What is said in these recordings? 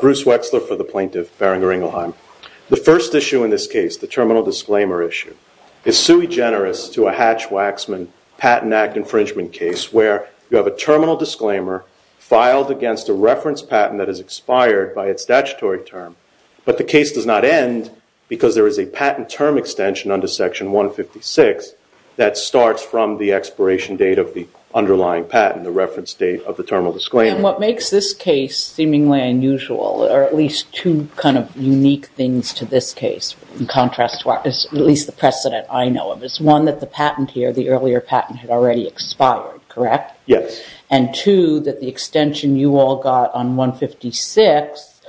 Bruce Wexler for the Plaintiff, Boehringer Ingelheim. The first issue in this case, the terminal disclaimer issue, is sui generis to a Hatch-Waxman Patent Act infringement case where you have a terminal disclaimer filed against a reference patent that has a statutory term. But the case does not end because there is a patent term extension under section 156 that starts from the expiration date of the underlying patent, the reference date of the terminal disclaimer. And what makes this case seemingly unusual, or at least two kind of unique things to this case, in contrast to at least the precedent I know of, is one, that the patent here, the earlier patent, had already expired, correct? Yes. And two, that the extension you all got on 156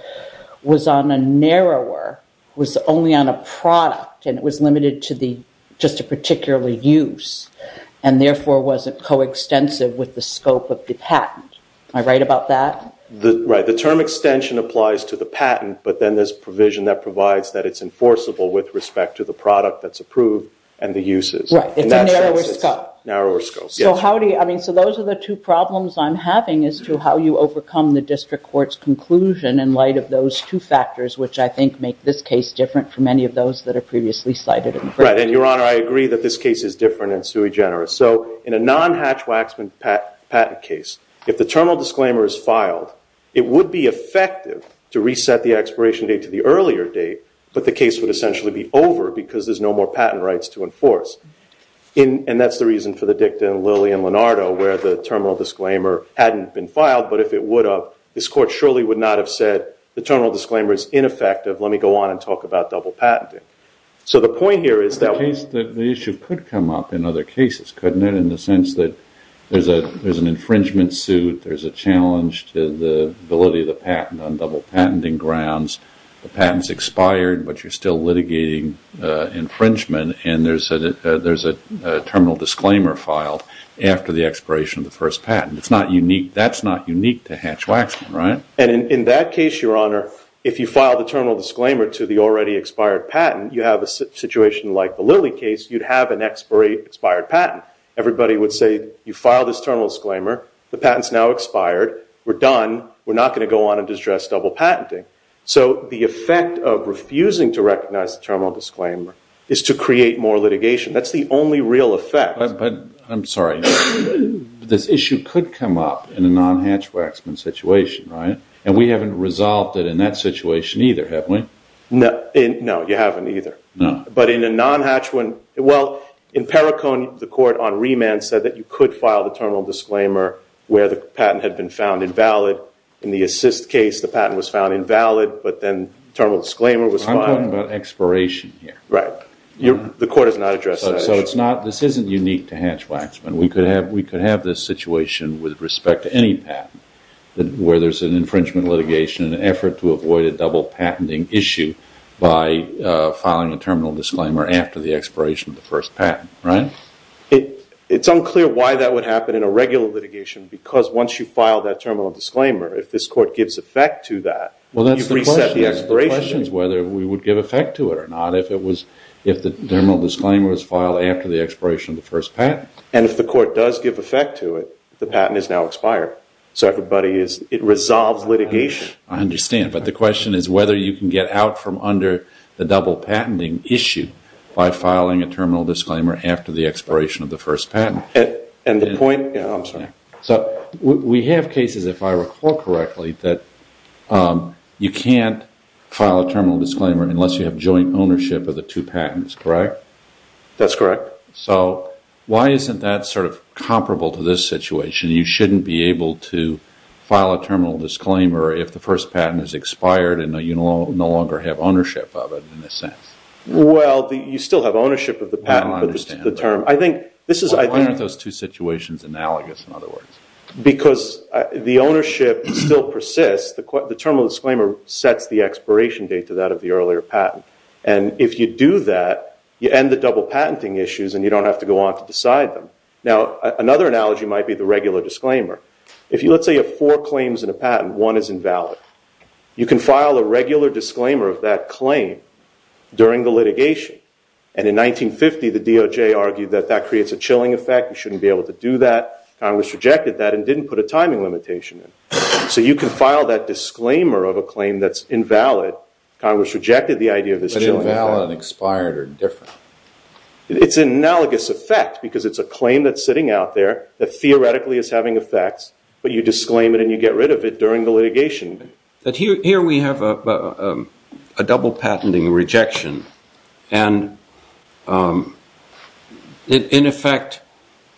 was on a narrower, was only on a product, and it was limited to just a particular use, and therefore wasn't coextensive with the scope of the patent. Am I right about that? Right. The term extension applies to the patent, but then there's provision that provides that it's enforceable with respect to the product that's approved and the uses. Right. It's a narrower scope. Narrower scope, yes. So how do you, I mean, so those are the two problems I'm having as to how you overcome the district court's conclusion in light of those two factors, which I think make this case different from any of those that are previously cited. Right. And Your Honor, I agree that this case is different and sui generis. So in a non-hatch waxman patent case, if the terminal disclaimer is filed, it would be effective to reset the expiration date to the earlier date, but the case would essentially be over because there's no more patent rights to enforce. And that's the reason for the dicta in Lilly and Lenardo, where the terminal disclaimer hadn't been filed, but if it would have, this court surely would not have said, the terminal disclaimer is ineffective, let me go on and talk about double patenting. So the point here is that- The issue could come up in other cases, couldn't it, in the sense that there's an infringement suit, there's a challenge to the validity of the patent on double patenting grounds, the patent's expired, but you're still litigating infringement, and there's a terminal disclaimer filed after the expiration of the first patent. It's not unique, that's not unique to hatch waxman, right? And in that case, Your Honor, if you file the terminal disclaimer to the already expired patent, you have a situation like the Lilly case, you'd have an expired patent. Everybody would say, you filed this terminal disclaimer, the patent's now expired, we're done, we're not going to go on and distress double patenting. So the effect of refusing to recognize the terminal disclaimer is to create more litigation. That's the only real effect. But, I'm sorry, this issue could come up in a non-hatch waxman situation, right? And we haven't resolved it in that situation either, have we? No, you haven't either. But in a non-hatch one, well, in Perricone, the court on remand said that you could file the terminal disclaimer where the patent had been found invalid in the assist case, the patent was found invalid, but then terminal disclaimer was filed. I'm talking about expiration here. Right. The court has not addressed that issue. So it's not, this isn't unique to hatch waxman. We could have this situation with respect to any patent, where there's an infringement litigation, an effort to avoid a double patenting issue by filing a terminal disclaimer after the expiration of the first patent, right? It's unclear why that would happen in a regular litigation, because once you file that terminal disclaimer, if this court gives effect to that, you've reset the expiration. Well, that's the question. The question is whether we would give effect to it or not if it was, if the terminal disclaimer was filed after the expiration of the first patent. And if the court does give effect to it, the patent is now expired. So everybody is, it resolves litigation. I understand. But the question is whether you can get out from under the double patenting issue by filing a terminal disclaimer after the expiration of the first patent. And the point, I'm sorry. So we have cases, if I recall correctly, that you can't file a terminal disclaimer unless you have joint ownership of the two patents, correct? That's correct. So why isn't that sort of comparable to this situation? You shouldn't be able to file a terminal disclaimer if the first patent is expired and you no longer have ownership of it in a sense. Well, you still have ownership of the patent. I understand. I think this is- Why aren't those two situations analogous in other words? Because the ownership still persists. The terminal disclaimer sets the expiration date to that of the earlier patent. And if you do that, you end the double patenting issues and you don't have to go on to decide them. Now, another analogy might be the regular disclaimer. If you, let's say, have four claims in a patent, one is invalid. You can file a regular disclaimer of that claim during the litigation. And in 1950, the DOJ argued that that creates a chilling effect. You shouldn't be able to do that. Congress rejected that and didn't put a timing limitation in. So you can file that disclaimer of a claim that's invalid. Congress rejected the idea of this chilling effect. But invalid and expired are different. It's an analogous effect because it's a claim that's sitting out there that theoretically is having effects, but you disclaim it and you get rid of it during the litigation. Here we have a double patenting rejection. And in effect,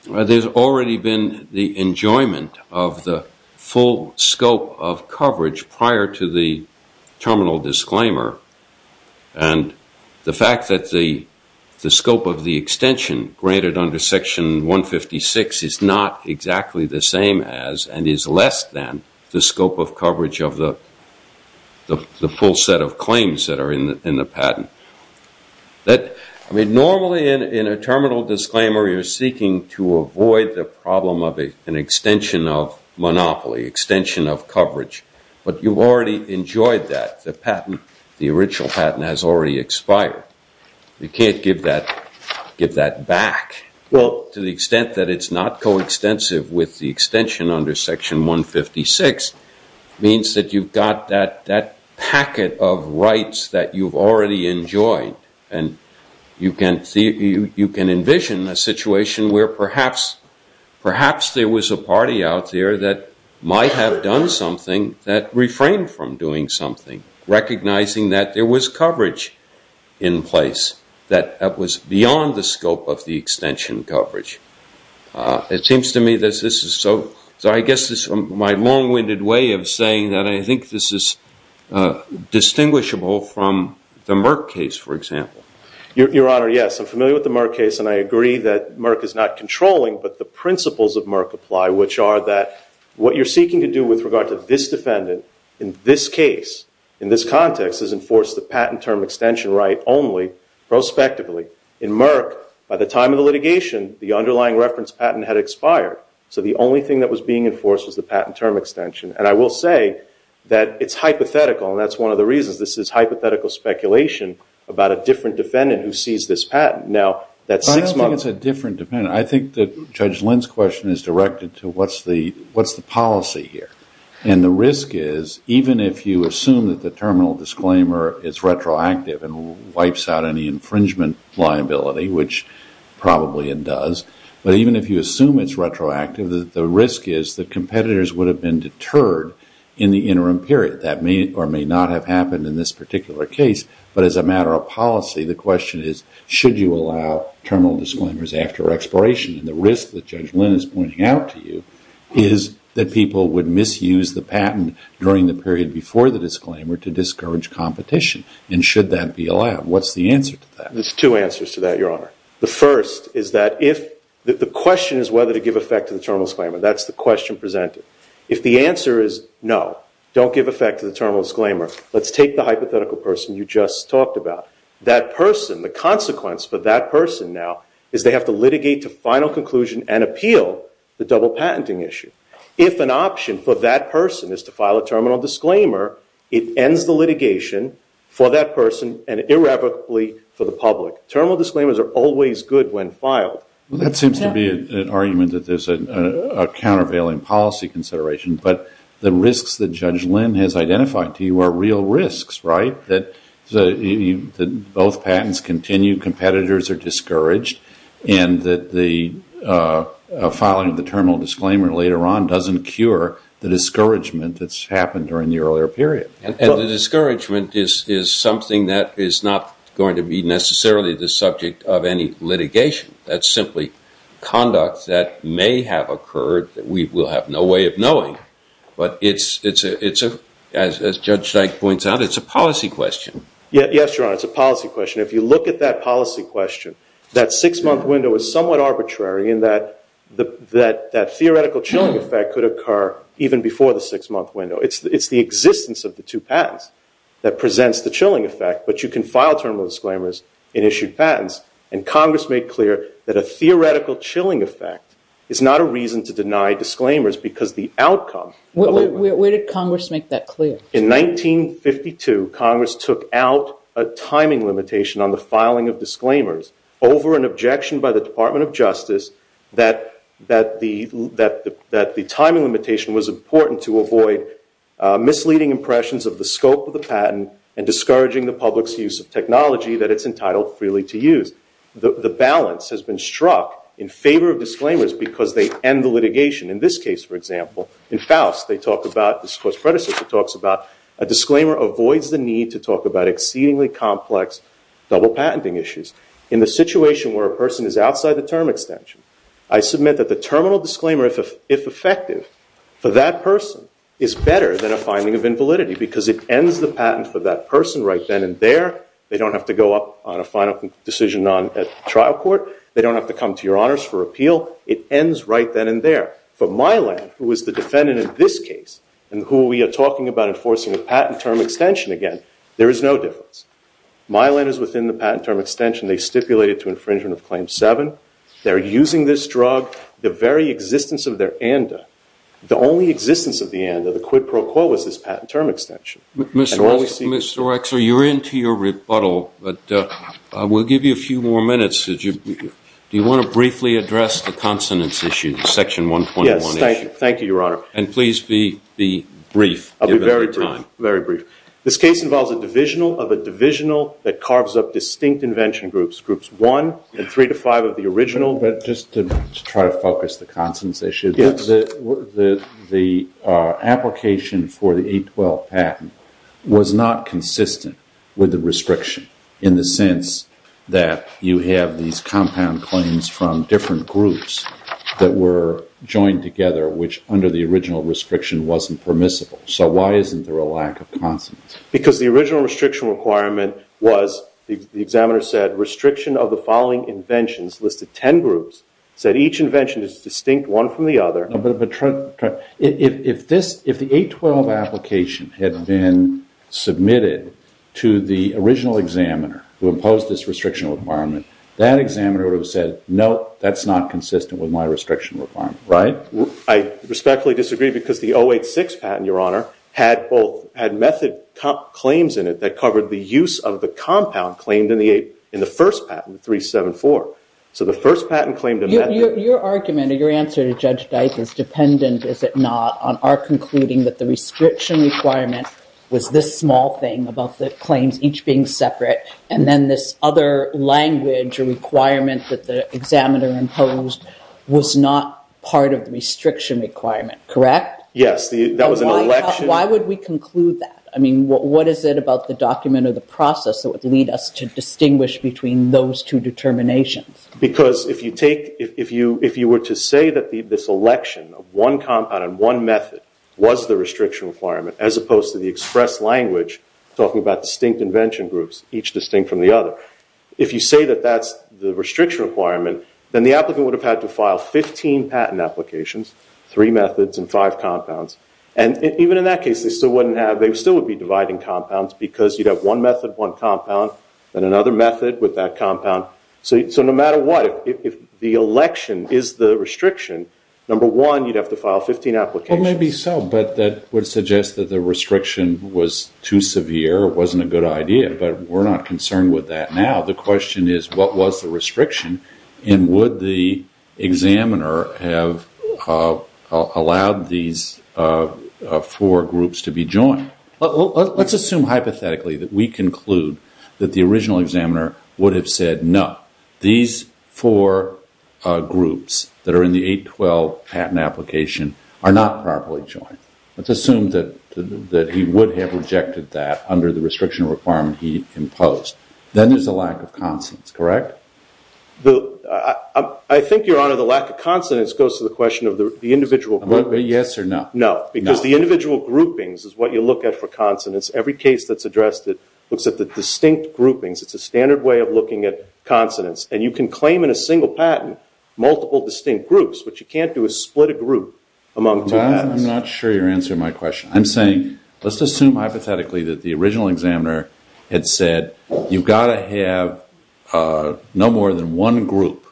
there's already been the enjoyment of the full scope of coverage prior to the terminal disclaimer. And the fact that the scope of coverage is exactly the same as, and is less than, the scope of coverage of the full set of claims that are in the patent. I mean, normally in a terminal disclaimer, you're seeking to avoid the problem of an extension of monopoly, extension of coverage. But you've already enjoyed that. The patent, the original patent has already expired. You can't give that back. Well, to the extent that it's not coextensive with the extension under Section 156, means that you've got that packet of rights that you've already enjoyed. And you can envision a situation where perhaps there was a party out there that might have done something that refrained from doing something, recognizing that there was coverage in place that was beyond the scope of the extension coverage. It seems to me that this is so. So I guess this is my long-winded way of saying that I think this is distinguishable from the Merck case, for example. Your Honor, yes. I'm familiar with the Merck case and I agree that Merck is not controlling, but the principles of Merck apply, which are that what you're seeking to do with regard to this defendant in this case, in this context, is enforce the patent term extension right only prospectively. In Merck, by the time of the litigation, the underlying reference patent had expired. So the only thing that was being enforced was the patent term extension. And I will say that it's hypothetical, and that's one of the reasons this is hypothetical speculation about a different defendant who sees this patent. Now, that's six months. I don't think it's a different defendant. I think that Judge Lynn's question is directed to what's the policy here? And the risk is, even if you assume that the terminal disclaimer is retroactive and wipes out any infringement liability, which probably it does, but even if you assume it's retroactive, the risk is that competitors would have been deterred in the interim period. That may or may not have happened in this particular case, but as a matter of policy, the question is, should you allow terminal disclaimers after expiration? And the risk that Judge Lynn is pointing out to you is that people would misuse the patent during the period before the disclaimer to discourage competition. And should that be allowed? What's the answer to that? There's two answers to that, Your Honor. The first is that if the question is whether to give effect to the terminal disclaimer, that's the question presented. If the answer is no, don't give effect to the terminal disclaimer, let's take the hypothetical person you just talked about. That person, the consequence for that person now is they have to litigate to final conclusion and appeal the double patenting issue. If an option for that person is to file a terminal disclaimer, it ends the litigation for that person and irrevocably for the public. Terminal disclaimers are always good when filed. That seems to be an argument that there's a countervailing policy consideration, but the risks that Judge Lynn has identified to you are real risks, right? That both patents continue, competitors are discouraged, and that the filing of the terminal disclaimer later on doesn't cure the discouragement that's happened during the earlier period. And the discouragement is something that is not going to be necessarily the subject of any litigation. That's simply conduct that may have occurred that we will have no way of knowing. But as Judge Dyke points out, it's a policy question. Yes, Your Honor, it's a policy question. If you look at that policy question, that six-month window is somewhat arbitrary in that that theoretical chilling effect could occur even before the six-month window. It's the existence of the two patents that presents the chilling effect, but you can file terminal disclaimers in issued patents. And Congress made clear that a theoretical chilling effect is not a reason to deny disclaimers because the outcome of a ruling. Where did Congress make that clear? In 1952, Congress took out a timing limitation on the filing of disclaimers over an objection by the Department of Justice that the timing limitation was important to avoid misleading impressions of the scope of the patent and discouraging the public's use of technology that it's entitled freely to use. The balance has been struck in favor of disclaimers because they end the litigation. In this case, for example, in Faust, they talk about, this is what's predecessor talks about, a disclaimer avoids the need to talk about exceedingly complex double patenting issues. In the situation where a person is outside the term extension, I submit that the terminal disclaimer, if effective, for that person is better than a finding of invalidity because it ends the patent for that person right then and there. They don't have to go up on a final decision at trial court. They don't have to come to your honors for appeal. It ends right then and there. For Milan, who is the defendant in this case, and who we are talking about enforcing a patent term extension again, there is no difference. Milan is within the patent term extension. They stipulated to infringement of Claim 7. They're using this drug. The very existence of their ANDA, the only existence of the ANDA, the quid pro quo, is this patent term extension. Mr. Rexler, you're into your rebuttal, but we'll give you a few more minutes. Do you want to briefly address the consonants issue, the Section 121 issue? Yes, thank you, Your Honor. And please be brief. I'll be very brief. This case involves a divisional of a divisional that carves up distinct invention groups, groups 1 and 3 to 5 of the original. But just to try to focus the consonants issue, the application for the 812 patent was not consistent with the restriction in the sense that you have these compound claims from different groups that were joined together, which under the original restriction wasn't permissible. So why isn't there a lack of consonants? Because the original restriction requirement was, the examiner said, restriction of the following inventions, listed 10 groups, said each invention is distinct one from the other. If the 812 application had been submitted to the original examiner who imposed this restriction, it would not have been consistent with my restriction requirement, right? I respectfully disagree, because the 086 patent, Your Honor, had method claims in it that covered the use of the compound claimed in the first patent, 374. So the first patent claimed a method. Your argument or your answer to Judge Dyke is dependent, is it not, on our concluding that the restriction requirement was this small thing, about the claims each being separate, and then this other language or requirement that the examiner imposed was not part of the restriction requirement, correct? Yes, that was an election. Why would we conclude that? I mean, what is it about the document or the process that would lead us to distinguish between those two determinations? Because if you were to say that this election of one compound and one method was the restriction requirement, as opposed to the express language talking about distinct invention groups, each distinct from the other, if you say that that's the restriction requirement, then the applicant would have had to file 15 patent applications, three methods and five compounds. And even in that case, they still wouldn't have, they still would be dividing compounds, because you'd have one method, one compound, then another method with that compound. So no matter what, if the election is the restriction, number one, you'd have to file 15 applications. Well, maybe so, but that would suggest that the restriction was too severe, it wasn't a good idea. But we're not concerned with that now. The question is, what was the restriction? And would the examiner have allowed these four groups to be joined? Let's assume hypothetically that we conclude that the original examiner would have said no. These four groups that are in the 812 patent application are not properly joined. Let's assume that he would have rejected that under the restriction requirement he imposed. Then there's a lack of consonants, correct? I think, Your Honor, the lack of consonants goes to the question of the individual groupings. Yes or no? No. Because the individual groupings is what you look at for consonants. Every case that's addressed, it looks at the distinct groupings. It's a standard way of looking at consonants. And you can claim in a single patent multiple distinct groups. What you can't do is split a group among two patents. I'm not sure you're answering my question. I'm saying, let's assume hypothetically that the original examiner had said, you've got to have no more than one group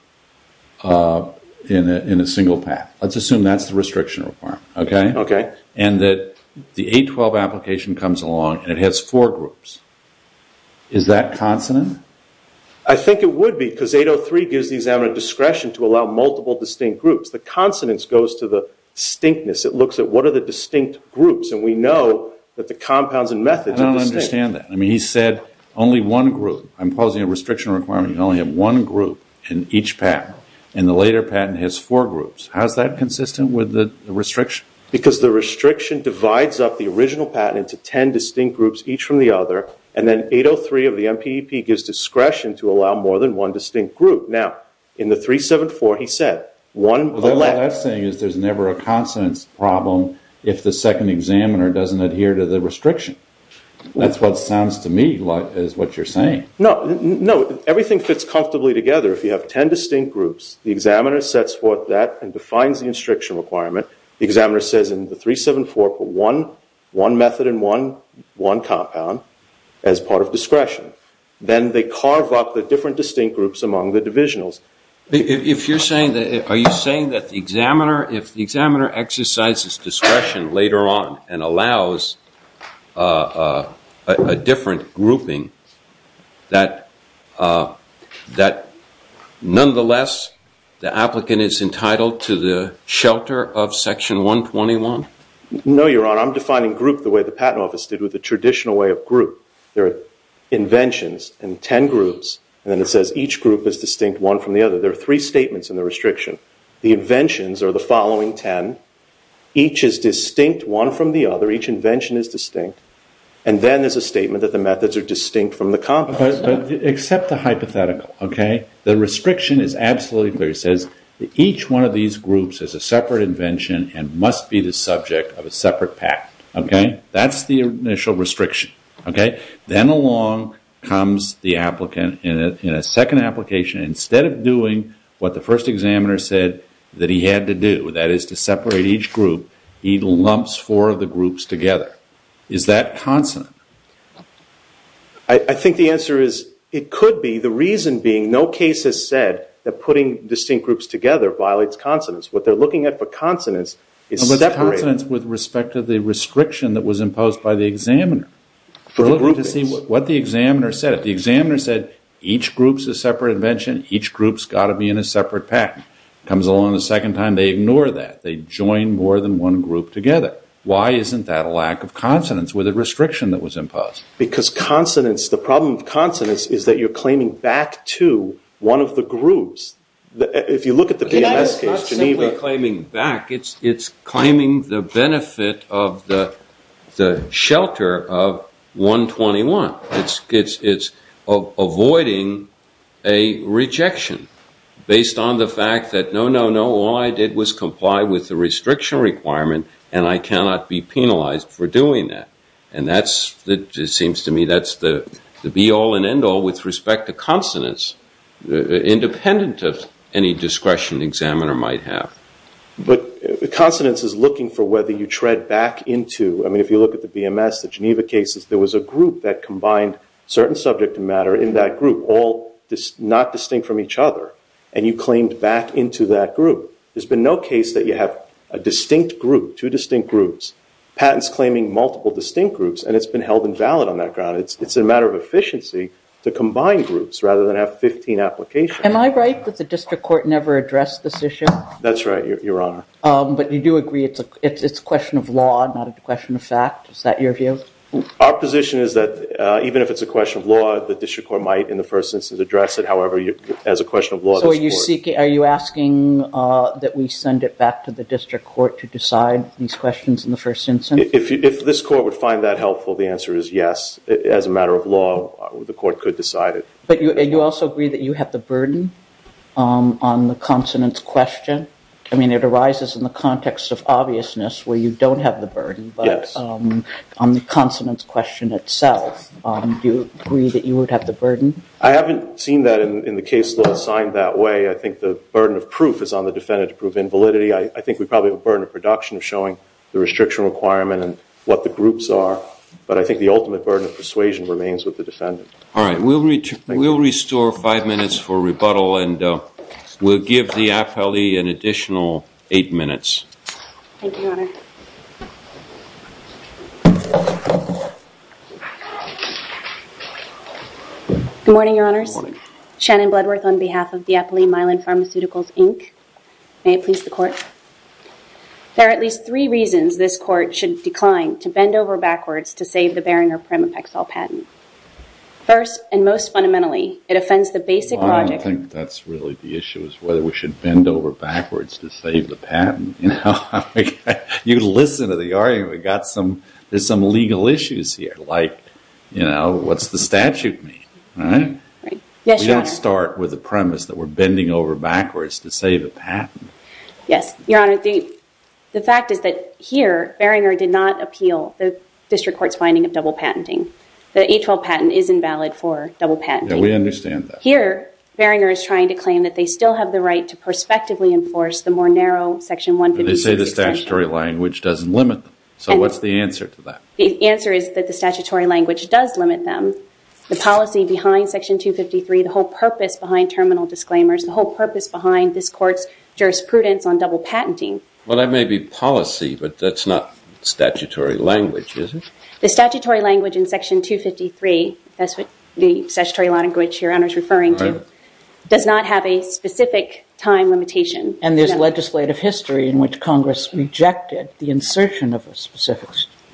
in a single patent. Let's assume that's the restriction requirement. And that the 812 application comes along and it has four groups. Is that consonant? I think it would be because 803 gives the examiner discretion to allow multiple distinct groups. The consonants goes to the distinctness. It looks at what are the distinct groups. And we know that the compounds and methods are distinct. I don't understand that. I mean, he said only one group. I'm posing a restriction requirement. You can only have one group in each patent. And the later patent has four groups. How's that consistent with the restriction? Because the restriction divides up the original patent into 10 distinct groups, each from the other. And then 803 of the MPEP gives discretion to allow more than one distinct group. Now, in the 374, he said, one left. What I'm saying is there's never a consonants problem if the second examiner doesn't adhere to the restriction. That's what sounds to me like is what you're saying. No. No. Everything fits comfortably together. If you have 10 distinct groups, the examiner sets forth that and defines the restriction requirement. The examiner says in the 374, put one method and one compound as part of discretion. Then they carve up the different distinct groups among the divisionals. If you're saying that, are you saying that the examiner, if the examiner exercises discretion later on and allows a different grouping, that nonetheless, the applicant is entitled to the shelter of section 121? No, Your Honor. I'm defining group the way the patent office did with the traditional way of group. There are inventions in 10 groups, and then it says each group is distinct one from the other. There are three statements in the restriction. The inventions are the following 10. Each is distinct one from the other. Each invention is distinct, and then there's a statement that the methods are distinct from the compound. Except the hypothetical, okay? The restriction is absolutely clear. It says that each one of these groups is a separate invention and must be the subject of a separate patent, okay? That's the initial restriction, okay? Then along comes the applicant in a second application. Instead of doing what the first examiner said that he had to do, that is to separate each group, he lumps four of the groups together. Is that consonant? I think the answer is it could be. The reason being, no case has said that putting distinct groups together violates consonants. What they're looking at for consonants is separating. But consonants with respect to the restriction that was imposed by the examiner. We're looking to see what the examiner said. The examiner said each group's a separate invention. Each group's got to be in a separate patent. Comes along a second time. They ignore that. They join more than one group together. Why isn't that a lack of consonants with a restriction that was imposed? Because consonants, the problem with consonants is that you're claiming back to one of the groups. If you look at the BMS case, Geneva. It's not simply claiming back. It's claiming the benefit of the shelter of 121. It's avoiding a rejection based on the fact that, no, no, no, all I did was comply with the restriction requirement and I cannot be penalized for doing that. That, it seems to me, that's the be all and end all with respect to consonants independent of any discretion the examiner might have. But consonants is looking for whether you tread back into, I mean, if you look at the BMS, the Geneva cases, there was a group that combined certain subject matter in that group, all not distinct from each other, and you claimed back into that group. There's been no case that you have a distinct group, two distinct groups, patents claiming multiple distinct groups, and it's been held invalid on that ground. It's a matter of efficiency to combine groups rather than have 15 applications. Am I right that the district court never addressed this issue? That's right, Your Honor. But you do agree it's a question of law, not a question of fact? Is that your view? Our position is that even if it's a question of law, the district court might, in the first instance, address it. However, as a question of law, this court- So are you seeking, are you asking that we send it back to the district court to decide these questions in the first instance? If this court would find that helpful, the answer is yes. As a matter of law, the court could decide it. But you also agree that you have the burden on the consonants question? I mean, it arises in the context of obviousness where you don't have the burden, but on the consonants question itself, do you agree that you would have the burden? I haven't seen that in the case law assigned that way. I think the burden of proof is on the defendant to prove invalidity. I think we probably have a burden of production of showing the restriction requirement and what the groups are, but I think the ultimate burden of persuasion remains with the defendant. All right. We'll restore five minutes for rebuttal and we'll give the appellee an additional eight minutes. Thank you, Your Honor. Good morning, Your Honors. Good morning. Shannon Bloodworth on behalf of the Appellee Mylan Pharmaceuticals, Inc. May it please the court. There are at least three reasons this court should decline to bend over backwards to save the Beringer Primapexol patent. First, and most fundamentally, it offends the basic logic. I don't think that's really the issue is whether we should bend over backwards to save the patent. You know, you listen to the argument, we got some, there's some legal issues here, like, you know, what's the statute mean, right? Yes, Your Honor. We don't start with the premise that we're bending over backwards to save a patent. Yes, Your Honor. The fact is that here, Beringer did not appeal the district court's finding of double patenting. The 812 patent is invalid for double patenting. Yeah, we understand that. Here, Beringer is trying to claim that they still have the right to prospectively enforce the more narrow Section 156 extension. But they say the statutory language doesn't limit them. So what's the answer to that? The answer is that the statutory language does limit them. The policy behind Section 253, the whole purpose behind terminal disclaimers, the whole purpose behind this court's jurisprudence on double patenting. Well, that may be policy, but that's not statutory language, is it? The statutory language in Section 253, that's what the statutory language Your Honor is referring to, does not have a specific time limitation. And there's legislative history in which Congress rejected the insertion of a specific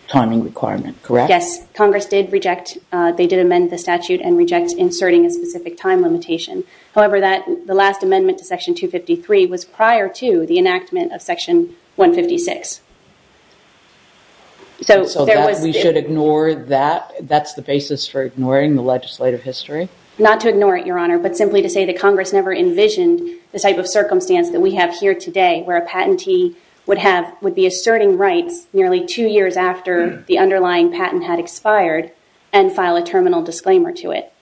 timing requirement, correct? Yes, Congress did reject. They did amend the statute and reject inserting a specific time limitation. However, the last amendment to Section 253 was prior to the enactment of Section 156. So we should ignore that? That's the basis for ignoring the legislative history? Not to ignore it, Your Honor, but simply to say that Congress never envisioned the type of circumstance that we have here today where a patentee would be asserting rights nearly two years after the underlying patent had expired and file a terminal disclaimer to it.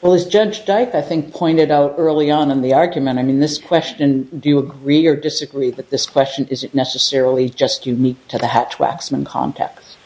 Well, as Judge Dyke, I think, pointed out early on in the argument, I mean, this question, do you agree or disagree that this question isn't necessarily just unique to the Hatch-Waxman context?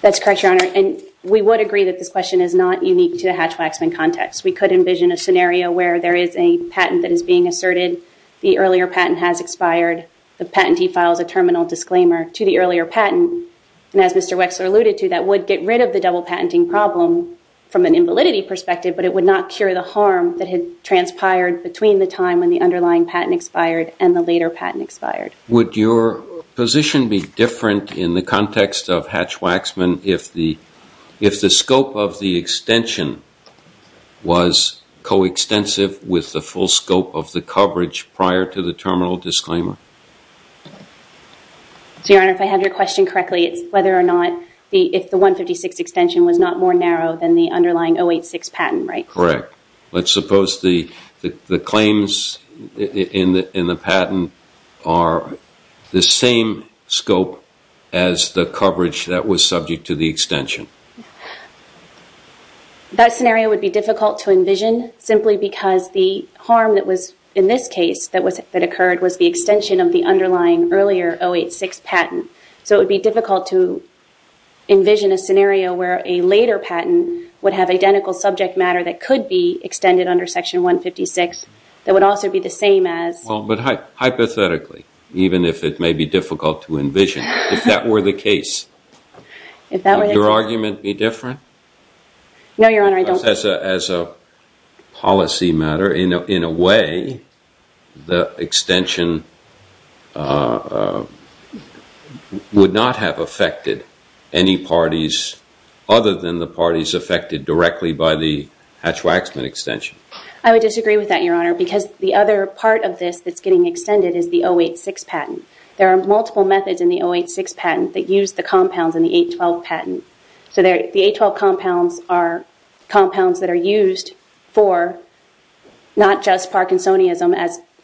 That's correct, Your Honor, and we would agree that this question is not unique to the Hatch-Waxman context. We could envision a scenario where there is a patent that is being asserted, the earlier patent has expired, the patentee files a terminal disclaimer to the earlier patent, and as Mr. Wexler alluded to, that would get rid of the double patenting problem from an invalidity perspective, but it would not cure the harm that had transpired between the time when the underlying patent expired and the later patent expired. Would your position be different in the context of Hatch-Waxman if the scope of the extension was coextensive with the full scope of the coverage prior to the terminal disclaimer? So, Your Honor, if I have your question correctly, it's whether or not if the 156 extension was not more narrow than the underlying 086 patent, right? Correct. Let's suppose the claims in the patent are the same scope as the coverage that was subject to the extension. That scenario would be difficult to envision simply because the harm that was in this case that occurred was the extension of the underlying earlier 086 patent. So it would be difficult to envision a scenario where a later patent would have identical subject matter that could be extended under Section 156 that would also be the same as... Well, but hypothetically, even if it may be difficult to envision, if that were the case, would your argument be different? No, Your Honor, I don't... Just as a policy matter, in a way, the extension would not have affected any parties other than the parties affected directly by the Hatch-Waxman extension. I would disagree with that, Your Honor, because the other part of this that's getting extended is the 086 patent. There are multiple methods in the 086 patent that use the compounds in the 812 patent. So the 812 compounds are compounds that are used for not just Parkinsonism,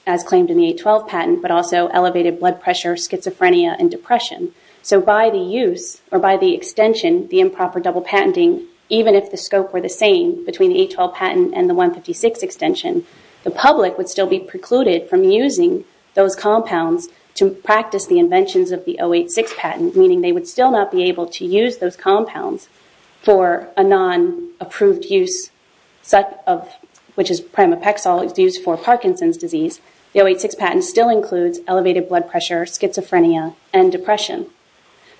as claimed in the 812 patent, but also elevated blood pressure, schizophrenia, and depression. So by the use or by the extension, the improper double patenting, even if the scope were the same between the 812 patent and the 156 extension, the public would still be precluded from using those compounds to practice the inventions of the 086 patent, meaning they would still not be able to use those compounds for a non-approved use, which is primopexol used for Parkinson's disease. The 086 patent still includes elevated blood pressure, schizophrenia, and depression.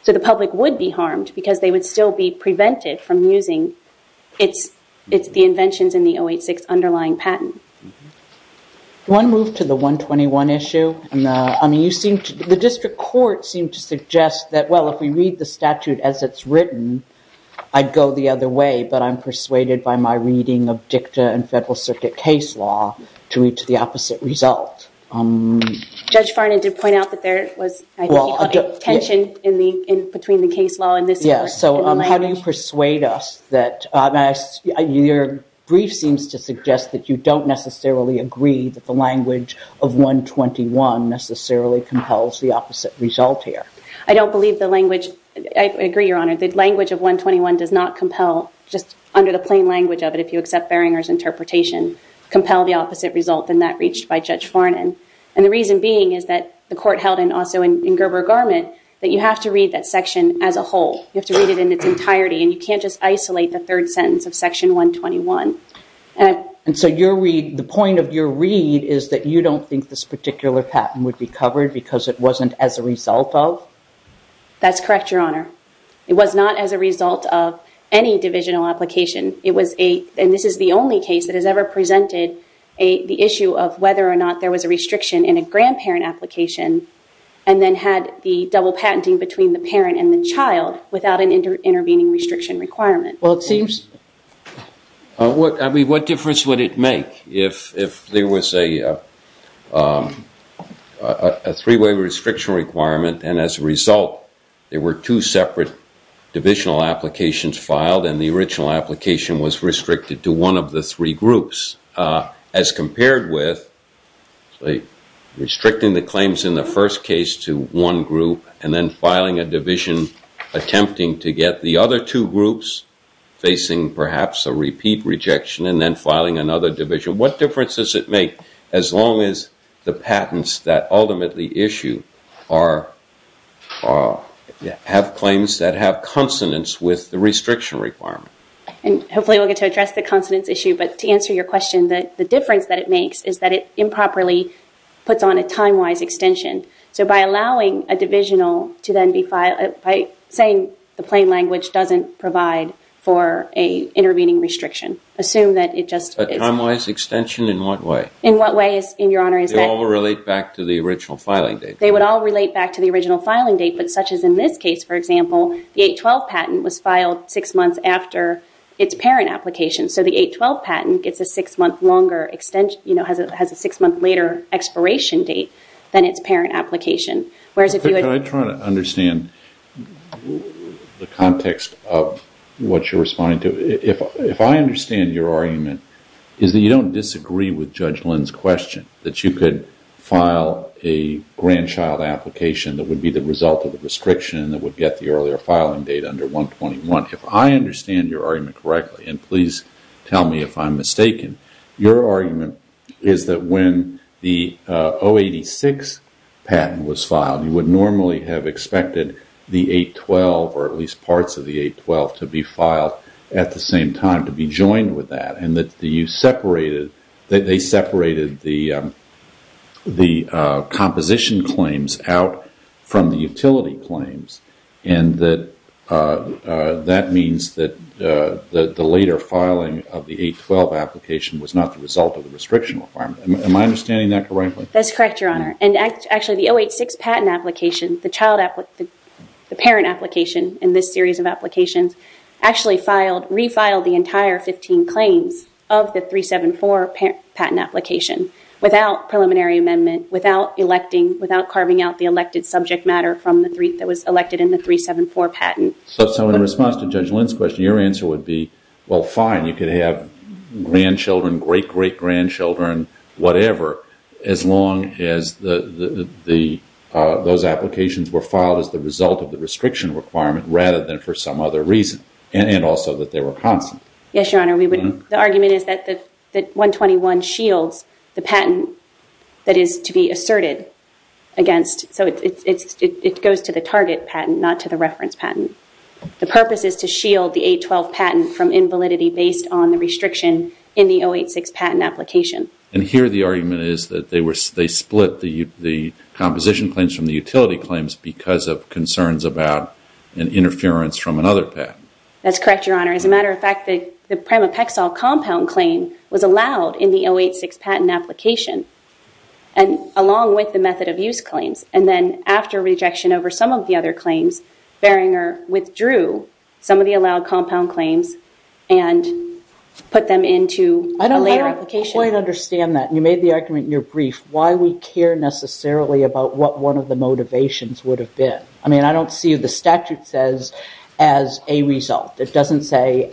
So the public would be harmed because they would still be prevented from using the inventions in the 086 underlying patent. One move to the 121 issue. The district court seemed to suggest that, well, if we read the statute as it's written, I'd go the other way, but I'm persuaded by my reading of dicta and federal circuit case law to reach the opposite result. Judge Farnon did point out that there was tension between the case law and this court. So how do you persuade us that your brief seems to suggest that you don't necessarily agree that the language of 121 necessarily compels the opposite result here? I don't believe the language. I agree, Your Honor. The language of 121 does not compel, just under the plain language of it, if you accept Beringer's interpretation, compel the opposite result than that reached by Judge Farnon. And the reason being is that the court held, and also in Gerber Garment, that you have to read that section as a whole. You have to read it in its entirety, and you can't just isolate the third sentence of section 121. And so the point of your read is that you don't think this particular patent would be covered because it wasn't as a result of? That's correct, Your Honor. It was not as a result of any divisional application. And this is the only case that has ever presented the issue of whether or not there was a restriction in a grandparent application and then had the double patenting between the parent and the child without an intervening restriction requirement. Well, it seems. I mean, what difference would it make if there was a three-way restriction requirement and as a result there were two separate divisional applications filed and the original application was restricted to one of the three groups as compared with restricting the claims in the first case to one group and then filing a division attempting to get the other two groups facing perhaps a repeat rejection and then filing another division? What difference does it make as long as the patents that ultimately issue have claims that have consonance with the restriction requirement? And hopefully we'll get to address the consonance issue, but to answer your question, the difference that it makes is that it improperly puts on a time-wise extension. So by allowing a divisional to then be filed, by saying the plain language doesn't provide for an intervening restriction, assume that it just is... A time-wise extension in what way? In what way, Your Honor, is that... They all relate back to the original filing date. They would all relate back to the original filing date, but such as in this case, for example, the 812 patent was filed six months after its parent application. So the 812 patent gets a six-month longer extension... You know, has a six-month later expiration date than its parent application, whereas if you... Could I try to understand the context of what you're responding to? If I understand your argument, is that you don't disagree with Judge Lynn's question, that you could file a grandchild application that would be the result of the restriction that would get the earlier filing date under 121. If I understand your argument correctly, and please tell me if I'm mistaken, your argument is that when the 086 patent was filed, you would normally have expected the 812, or at least parts of the 812, to be filed at the same time, to be joined with that, and that you separated... They separated the composition claims out from the utility claims, and that that means that the later filing of the 812 application was not the result of the restriction requirement. Am I understanding that correctly? That's correct, Your Honor. And actually, the 086 patent application, the parent application in this series of applications, actually refiled the entire 15 claims of the 374 patent application without preliminary amendment, without carving out the elected subject matter that was elected in the 374 patent. So in response to Judge Lynn's question, your answer would be, well, fine, you could have grandchildren, great-great-grandchildren, whatever, as long as those applications were filed as the result of the restriction requirement rather than for some other reason, and also that they were constant. Yes, Your Honor. The argument is that the 121 shields the patent that is to be asserted against. So it goes to the target patent, not to the reference patent. The purpose is to shield the 812 patent from invalidity based on the restriction in the 086 patent application. And here the argument is that they split the composition claims from the utility claims because of concerns about an interference from another patent. That's correct, Your Honor. As a matter of fact, the Primapexile compound claim was allowed in the 086 patent application along with the method of use claims. And then after rejection over some of the other claims, Barringer withdrew some of the allowed compound claims and put them into a later application. I don't quite understand that. You made the argument in your brief why we care necessarily about what one of the motivations would have been. I mean, I don't see the statute says as a result. It doesn't say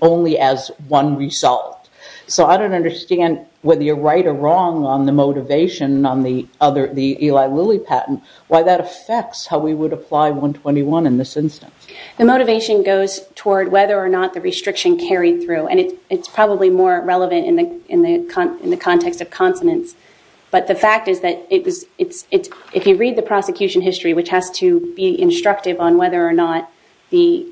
only as one result. So I don't understand whether you're right or wrong on the motivation on the Eli Lilly patent, why that affects how we would apply 121 in this instance. The motivation goes toward whether or not the restriction carried through. And it's probably more relevant in the context of consonants. But the fact is that if you read the prosecution history, which has to be instructive on whether or not the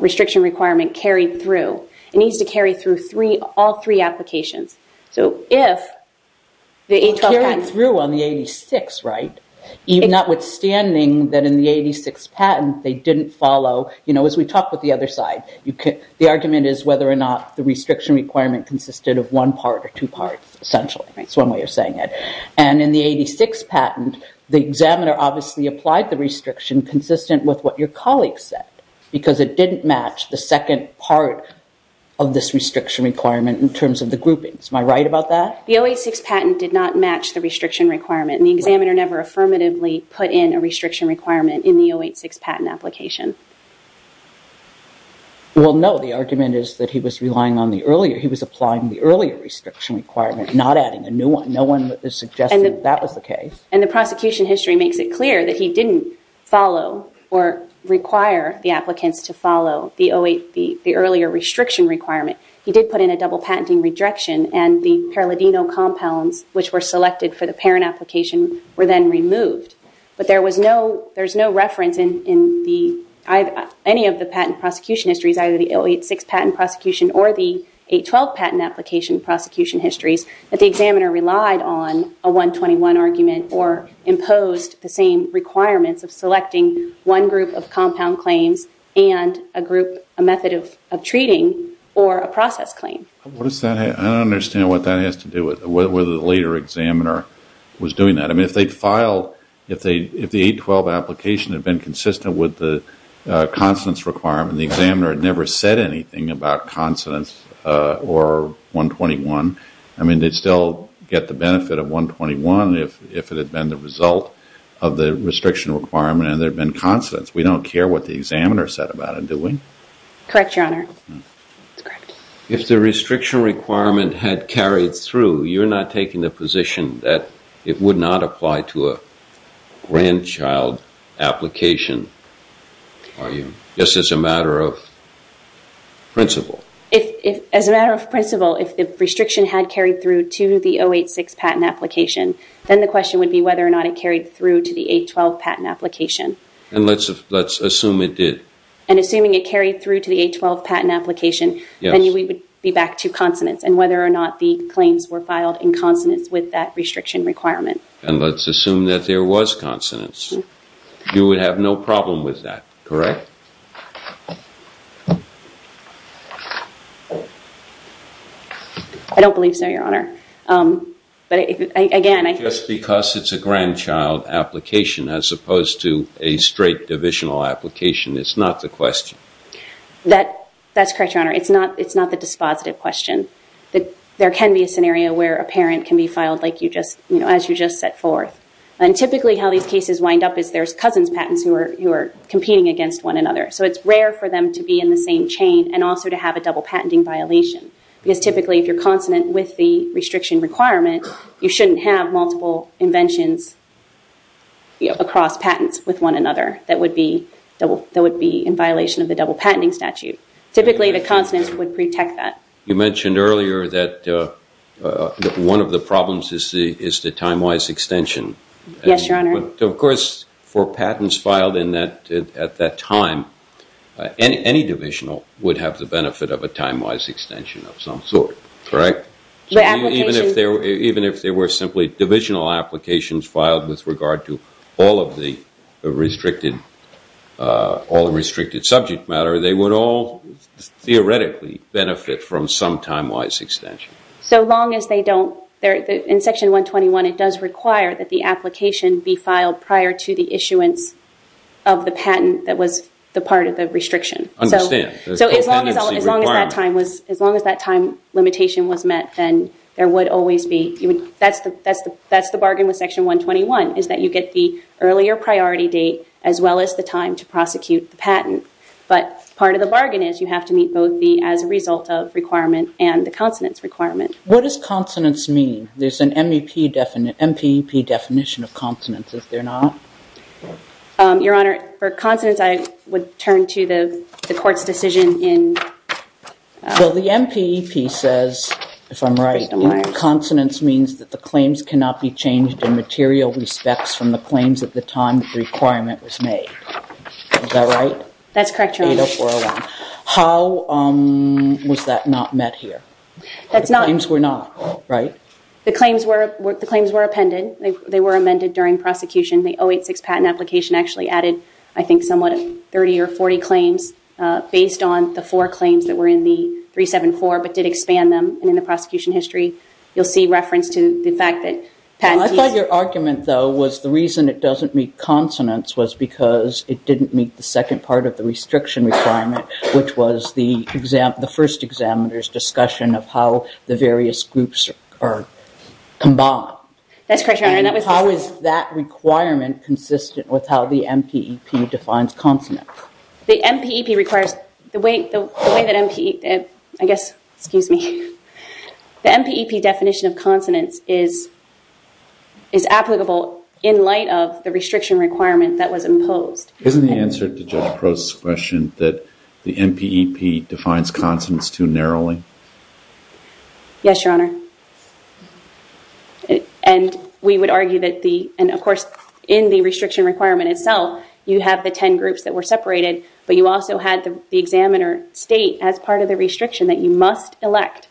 restriction requirement carried through, it needs to carry through all three applications. So if the 812 patent... It carried through on the 86, right? Notwithstanding that in the 86 patent, they didn't follow. You know, as we talked with the other side, the argument is whether or not the restriction requirement consisted of one part or two parts, essentially. That's one way of saying it. And in the 86 patent, the examiner obviously applied the restriction consistent with what your colleague said, because it didn't match the second part of this restriction requirement in terms of the groupings. Am I right about that? The 086 patent did not match the restriction requirement. And the examiner never affirmatively put in a restriction requirement in the 086 patent application. Well, no. The argument is that he was applying the earlier restriction requirement, not adding a new one. No one suggested that was the case. And the prosecution history makes it clear that he didn't follow or require the applicants to follow the earlier restriction requirement. He did put in a double patenting rejection, and the paradino compounds, which were selected for the parent application, were then removed. But there's no reference in any of the patent prosecution histories, either the 086 patent prosecution or the 0812 patent application prosecution histories, that the examiner relied on a 121 argument or imposed the same requirements of selecting one group of compound claims and a method of treating or a process claim. I don't understand what that has to do with it, whether the later examiner was doing that. I mean, if the 0812 application had been consistent with the constance requirement, the examiner had never said anything about consonance or 121. I mean, they'd still get the benefit of 121 if it had been the result of the restriction requirement and there had been consonance. We don't care what the examiner said about it, do we? Correct, Your Honor. If the restriction requirement had carried through, you're not taking the position that it would not apply to a grandchild application. Are you? Just as a matter of principle. As a matter of principle, if the restriction had carried through to the 086 patent application, then the question would be whether or not it carried through to the 0812 patent application. And let's assume it did. And assuming it carried through to the 0812 patent application, then we would be back to consonance and whether or not the claims were filed in consonance with that restriction requirement. And let's assume that there was consonance. You would have no problem with that, correct? I don't believe so, Your Honor. But again, I... Just because it's a grandchild application as opposed to a straight divisional application, it's not the question. That's correct, Your Honor. It's not the dispositive question. There can be a scenario where a parent can be filed as you just set forth. And typically how these cases wind up is there's cousin's patents who are competing against one another. So it's rare for them to be in the same chain and also to have a double patenting violation. Because typically if you're consonant with the restriction requirement, you shouldn't have multiple inventions across patents with one another that would be in violation of the double patenting statute. Typically the consonance would protect that. You mentioned earlier that one of the problems is the time-wise extension. Yes, Your Honor. Of course, for patents filed at that time, any divisional would have the benefit of a time-wise extension of some sort, correct? Even if there were simply divisional applications filed with regard to all of the restricted subject matter, they would all theoretically benefit from some time-wise extension. So long as they don't... In Section 121, it does require that the application be filed prior to the issuance of the patent that was the part of the restriction. Understand. So as long as that time limitation was met, then there would always be... That's the bargain with Section 121, is that you get the earlier priority date as well as the time to prosecute the patent. But part of the bargain is you have to meet both and the consonance requirement. What does consonance mean? There's an MEP definition... MPEP definition of consonance, is there not? Your Honor, for consonance, I would turn to the court's decision in... Well, the MPEP says, if I'm right, consonance means that the claims cannot be changed in material respects from the claims at the time the requirement was made. Is that right? That's correct, Your Honor. 80401. How was that not met here? The claims were not, right? The claims were appended. They were amended during prosecution. The 086 patent application actually added, I think, somewhat 30 or 40 claims based on the four claims that were in the 374 but did expand them in the prosecution history. You'll see reference to the fact that... I thought your argument, though, was the reason it doesn't meet consonance was because it didn't meet the second part of the restriction requirement, which was the first examiner's discussion of how the various groups are combined. That's correct, Your Honor. How is that requirement consistent with how the MPEP defines consonance? The MPEP requires... The way that MPEP... I guess... Excuse me. The MPEP definition of consonance is applicable in light of the restriction requirement that was imposed. Isn't the answer to Judge Prost's question that the MPEP defines consonance too narrowly? Yes, Your Honor. And we would argue that the... And, of course, in the restriction requirement itself, you have the 10 groups that were separated, but you also had the examiner state as part of the restriction that you must elect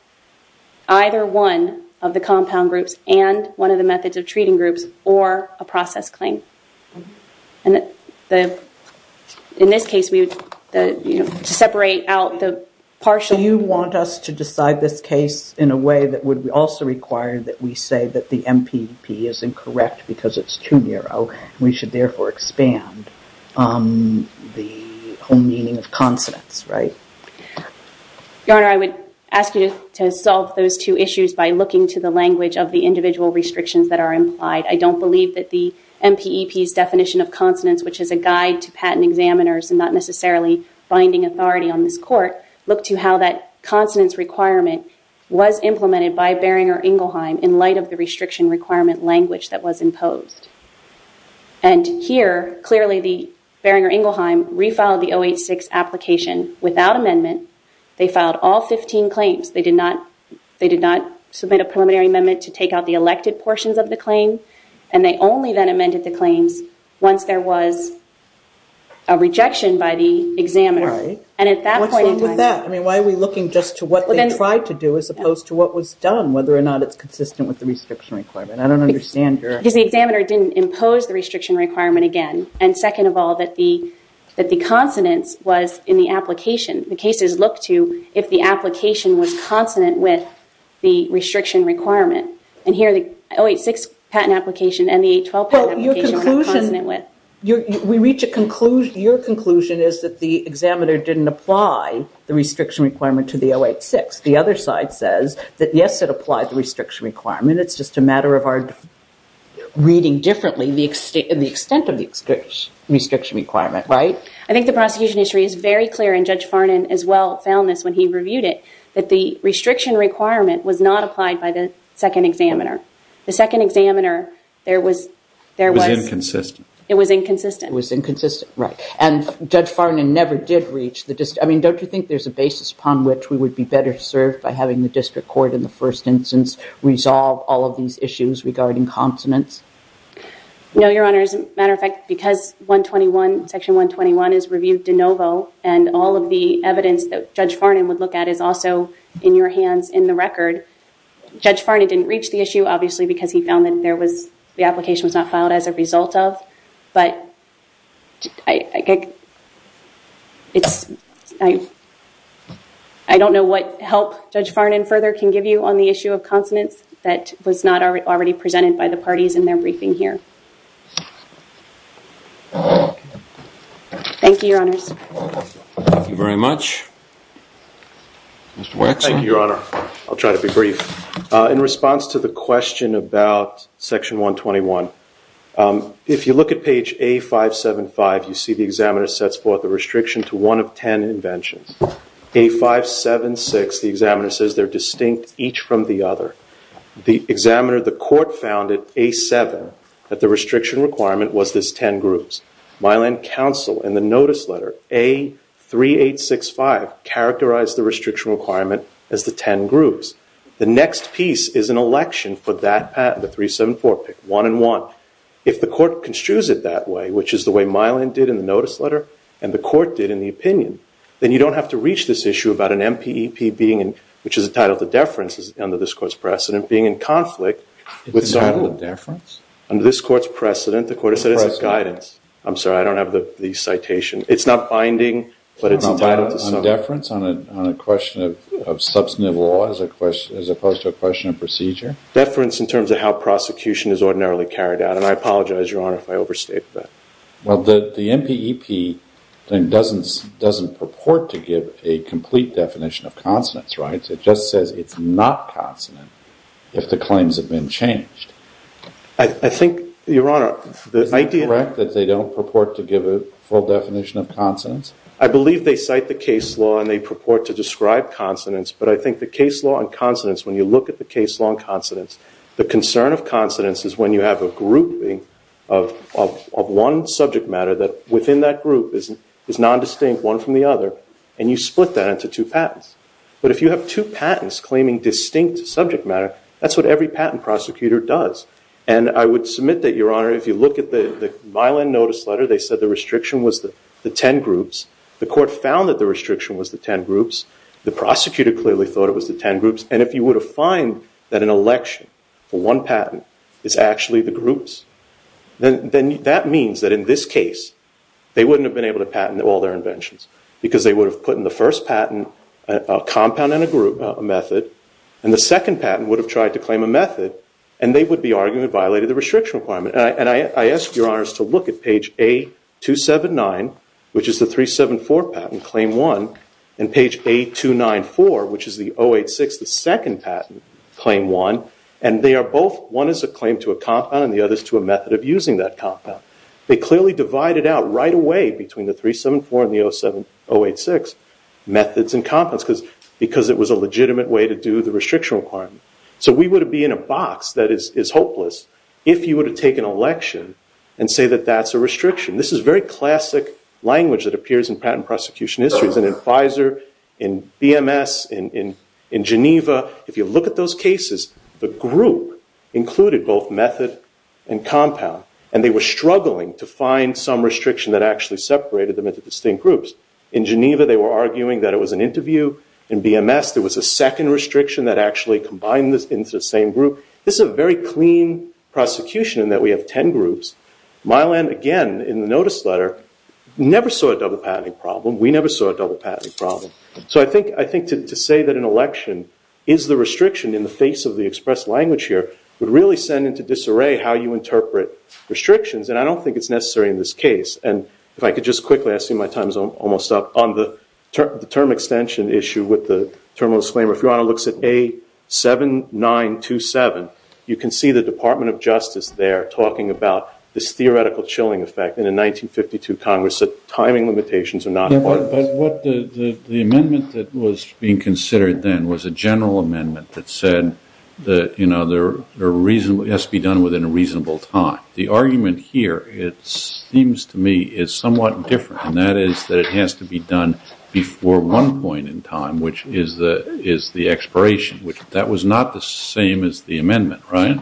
either one of the compound groups and one of the methods of treating groups or a process claim. In this case, we would separate out the partial... Do you want us to decide this case in a way that would also require that we say that the MPEP is incorrect because it's too narrow? We should therefore expand the whole meaning of consonance, right? Your Honor, I would ask you to solve those two issues by looking to the language of the individual restrictions that are implied. I don't believe that the MPEP's definition of consonance, which is a guide to patent examiners and not necessarily binding authority on this court, look to how that consonance requirement was implemented by Boehringer Ingelheim in light of the restriction requirement language that was imposed. And here, clearly, the Boehringer Ingelheim refiled the 086 application without amendment. They filed all 15 claims. They did not submit a preliminary amendment to take out the elected portions of the claim. And they only then amended the claims once there was a rejection by the examiner. Right. What's wrong with that? I mean, why are we looking just to what they tried to do as opposed to what was done, whether or not it's consistent with the restriction requirement? I don't understand your... Because the examiner didn't impose the restriction requirement again. And second of all, that the consonance was in the application. The cases look to if the application was consonant with the restriction requirement. And here, the 086 patent application and the 812 patent application were consonant with. We reach a conclusion. Your conclusion is that the examiner didn't apply the restriction requirement to the 086. The other side says that, yes, it applied the restriction requirement. It's just a matter of our reading differently the extent of the restriction requirement, right? I think the prosecution history is very clear, and Judge Farnan as well found this when he reviewed it, that the restriction requirement was not applied by the second examiner. The second examiner, there was... It was inconsistent. It was inconsistent. It was inconsistent, right. And Judge Farnan never did reach the... I mean, don't you think there's a basis upon which we would be better served by having the district court in the first instance resolve all of these issues regarding consonance? No, Your Honor. As a matter of fact, because Section 121 is reviewed de novo and all of the evidence that Judge Farnan would look at is also in your hands in the record, Judge Farnan didn't reach the issue, obviously, because he found that there was... the application was not filed as a result of, but I don't know what help Judge Farnan further can give you on the issue of consonance that was not already presented by the parties in their briefing here. Thank you, Your Honors. Thank you very much. Mr. Wexler. Thank you, Your Honor. I'll try to be brief. In response to the question about Section 121, if you look at page A575, you see the examiner sets forth a restriction to one of 10 inventions. A576, the examiner says, they're distinct each from the other. The examiner, the court found at A7 that the restriction requirement was this 10 groups. Mylan Counsel in the notice letter, A3865, characterized the restriction requirement as the 10 groups. The next piece is an election for that patent, the 374 pick, one and one. If the court construes it that way, which is the way Mylan did in the notice letter and the court did in the opinion, then you don't have to reach this issue about an MPEP being in, which is entitled to deference under this court's precedent, being in conflict with... Entitled to deference? Under this court's precedent, the court has said it's a guidance. I'm sorry, I don't have the citation. It's not binding, but it's entitled to so. On deference on a question of substantive law as opposed to a question of procedure? Deference in terms of how prosecution is ordinarily carried out, and I apologize, Your Honor, if I overstate that. Well, the MPEP doesn't purport to give a complete definition of consonance, right? It just says it's not consonant if the claims have been changed. I think, Your Honor, the idea... Is it correct that they don't purport to give a full definition of consonance? I believe they cite the case law and they purport to describe consonance, but I think the case law and consonance, when you look at the case law and consonance, the concern of consonance is when you have a grouping of one subject matter that within that group is nondistinct, one from the other, and you split that into two patents. But if you have two patents claiming distinct subject matter, that's what every patent prosecutor does. And I would submit that, Your Honor, if you look at the violent notice letter, they said the restriction was the 10 groups. The court found that the restriction was the 10 groups. The prosecutor clearly thought it was the 10 groups. And if you were to find that an election for one patent is actually the groups, then that means that in this case they wouldn't have been able to patent all their inventions because they would have put in the first patent a compound and a method, and the second patent would have tried to claim a method, and they would be arguing it violated the restriction requirement. And I ask Your Honors to look at page A279, which is the 374 patent, Claim 1, and page A294, which is the 086, the second patent, Claim 1, and they are both, one is a claim to a compound and the other is to a method of using that compound. They clearly divided out right away between the 374 and the 086 methods and compounds because it was a legitimate way to do the restriction requirement. So we would be in a box that is hopeless if you were to take an election and say that that's a restriction. This is very classic language that appears in patent prosecution histories. And in Pfizer, in BMS, in Geneva, if you look at those cases, the group included both method and compound, and they were struggling to find some restriction that actually separated them into distinct groups. In Geneva, they were arguing that it was an interview. In BMS, there was a second restriction that actually combined into the same group. This is a very clean prosecution in that we have 10 groups. Mylan, again, in the notice letter, never saw a double patenting problem. We never saw a double patenting problem. So I think to say that an election is the restriction in the face of the express language here would really send into disarray how you interpret restrictions, and I don't think it's necessary in this case. And if I could just quickly, I see my time is almost up. On the term extension issue with the terminal disclaimer, if Your Honor looks at A7927, you can see the Department of Justice there talking about this theoretical chilling effect in a 1952 Congress that timing limitations are not important. But what the amendment that was being considered then was a general amendment that said that it has to be done within a reasonable time. The argument here, it seems to me, is somewhat different, and that is that it has to be done before one point in time, which is the expiration. That was not the same as the amendment, right?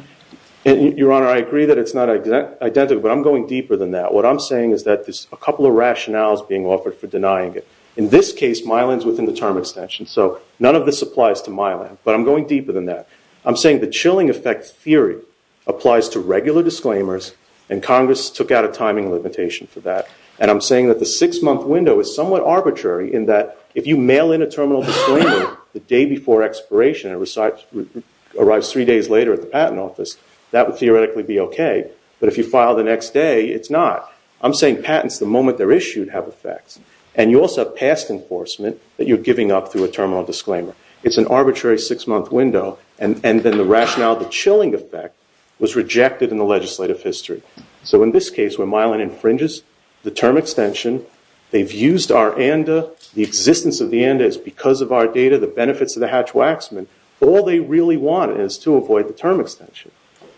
Your Honor, I agree that it's not identical, but I'm going deeper than that. What I'm saying is that there's a couple of rationales being offered for denying it. In this case, Mylan's within the term extension, so none of this applies to Mylan, but I'm going deeper than that. I'm saying the chilling effect theory applies to regular disclaimers, and Congress took out a timing limitation for that. And I'm saying that the six-month window is somewhat arbitrary in that if you mail in a terminal disclaimer the day before expiration and it arrives three days later at the patent office, that would theoretically be okay. But if you file the next day, it's not. I'm saying patents, the moment they're issued, have effects. And you also have past enforcement that you're giving up through a terminal disclaimer. It's an arbitrary six-month window, and then the rationale of the chilling effect was rejected in the legislative history. So in this case, where Mylan infringes the term extension, they've used our ANDA, the existence of the ANDA is because of our data, the benefits of the Hatch-Waxman. All they really want is to avoid the term extension.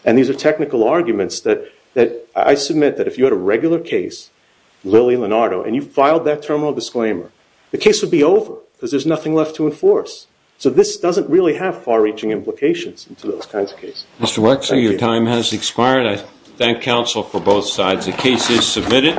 And these are technical arguments that I submit that if you had a regular case, Lilly and Leonardo, and you filed that terminal disclaimer, the case would be over because there's nothing left to enforce. So this doesn't really have far-reaching implications into those kinds of cases. Mr. Wexler, your time has expired. I thank counsel for both sides. The case is submitted.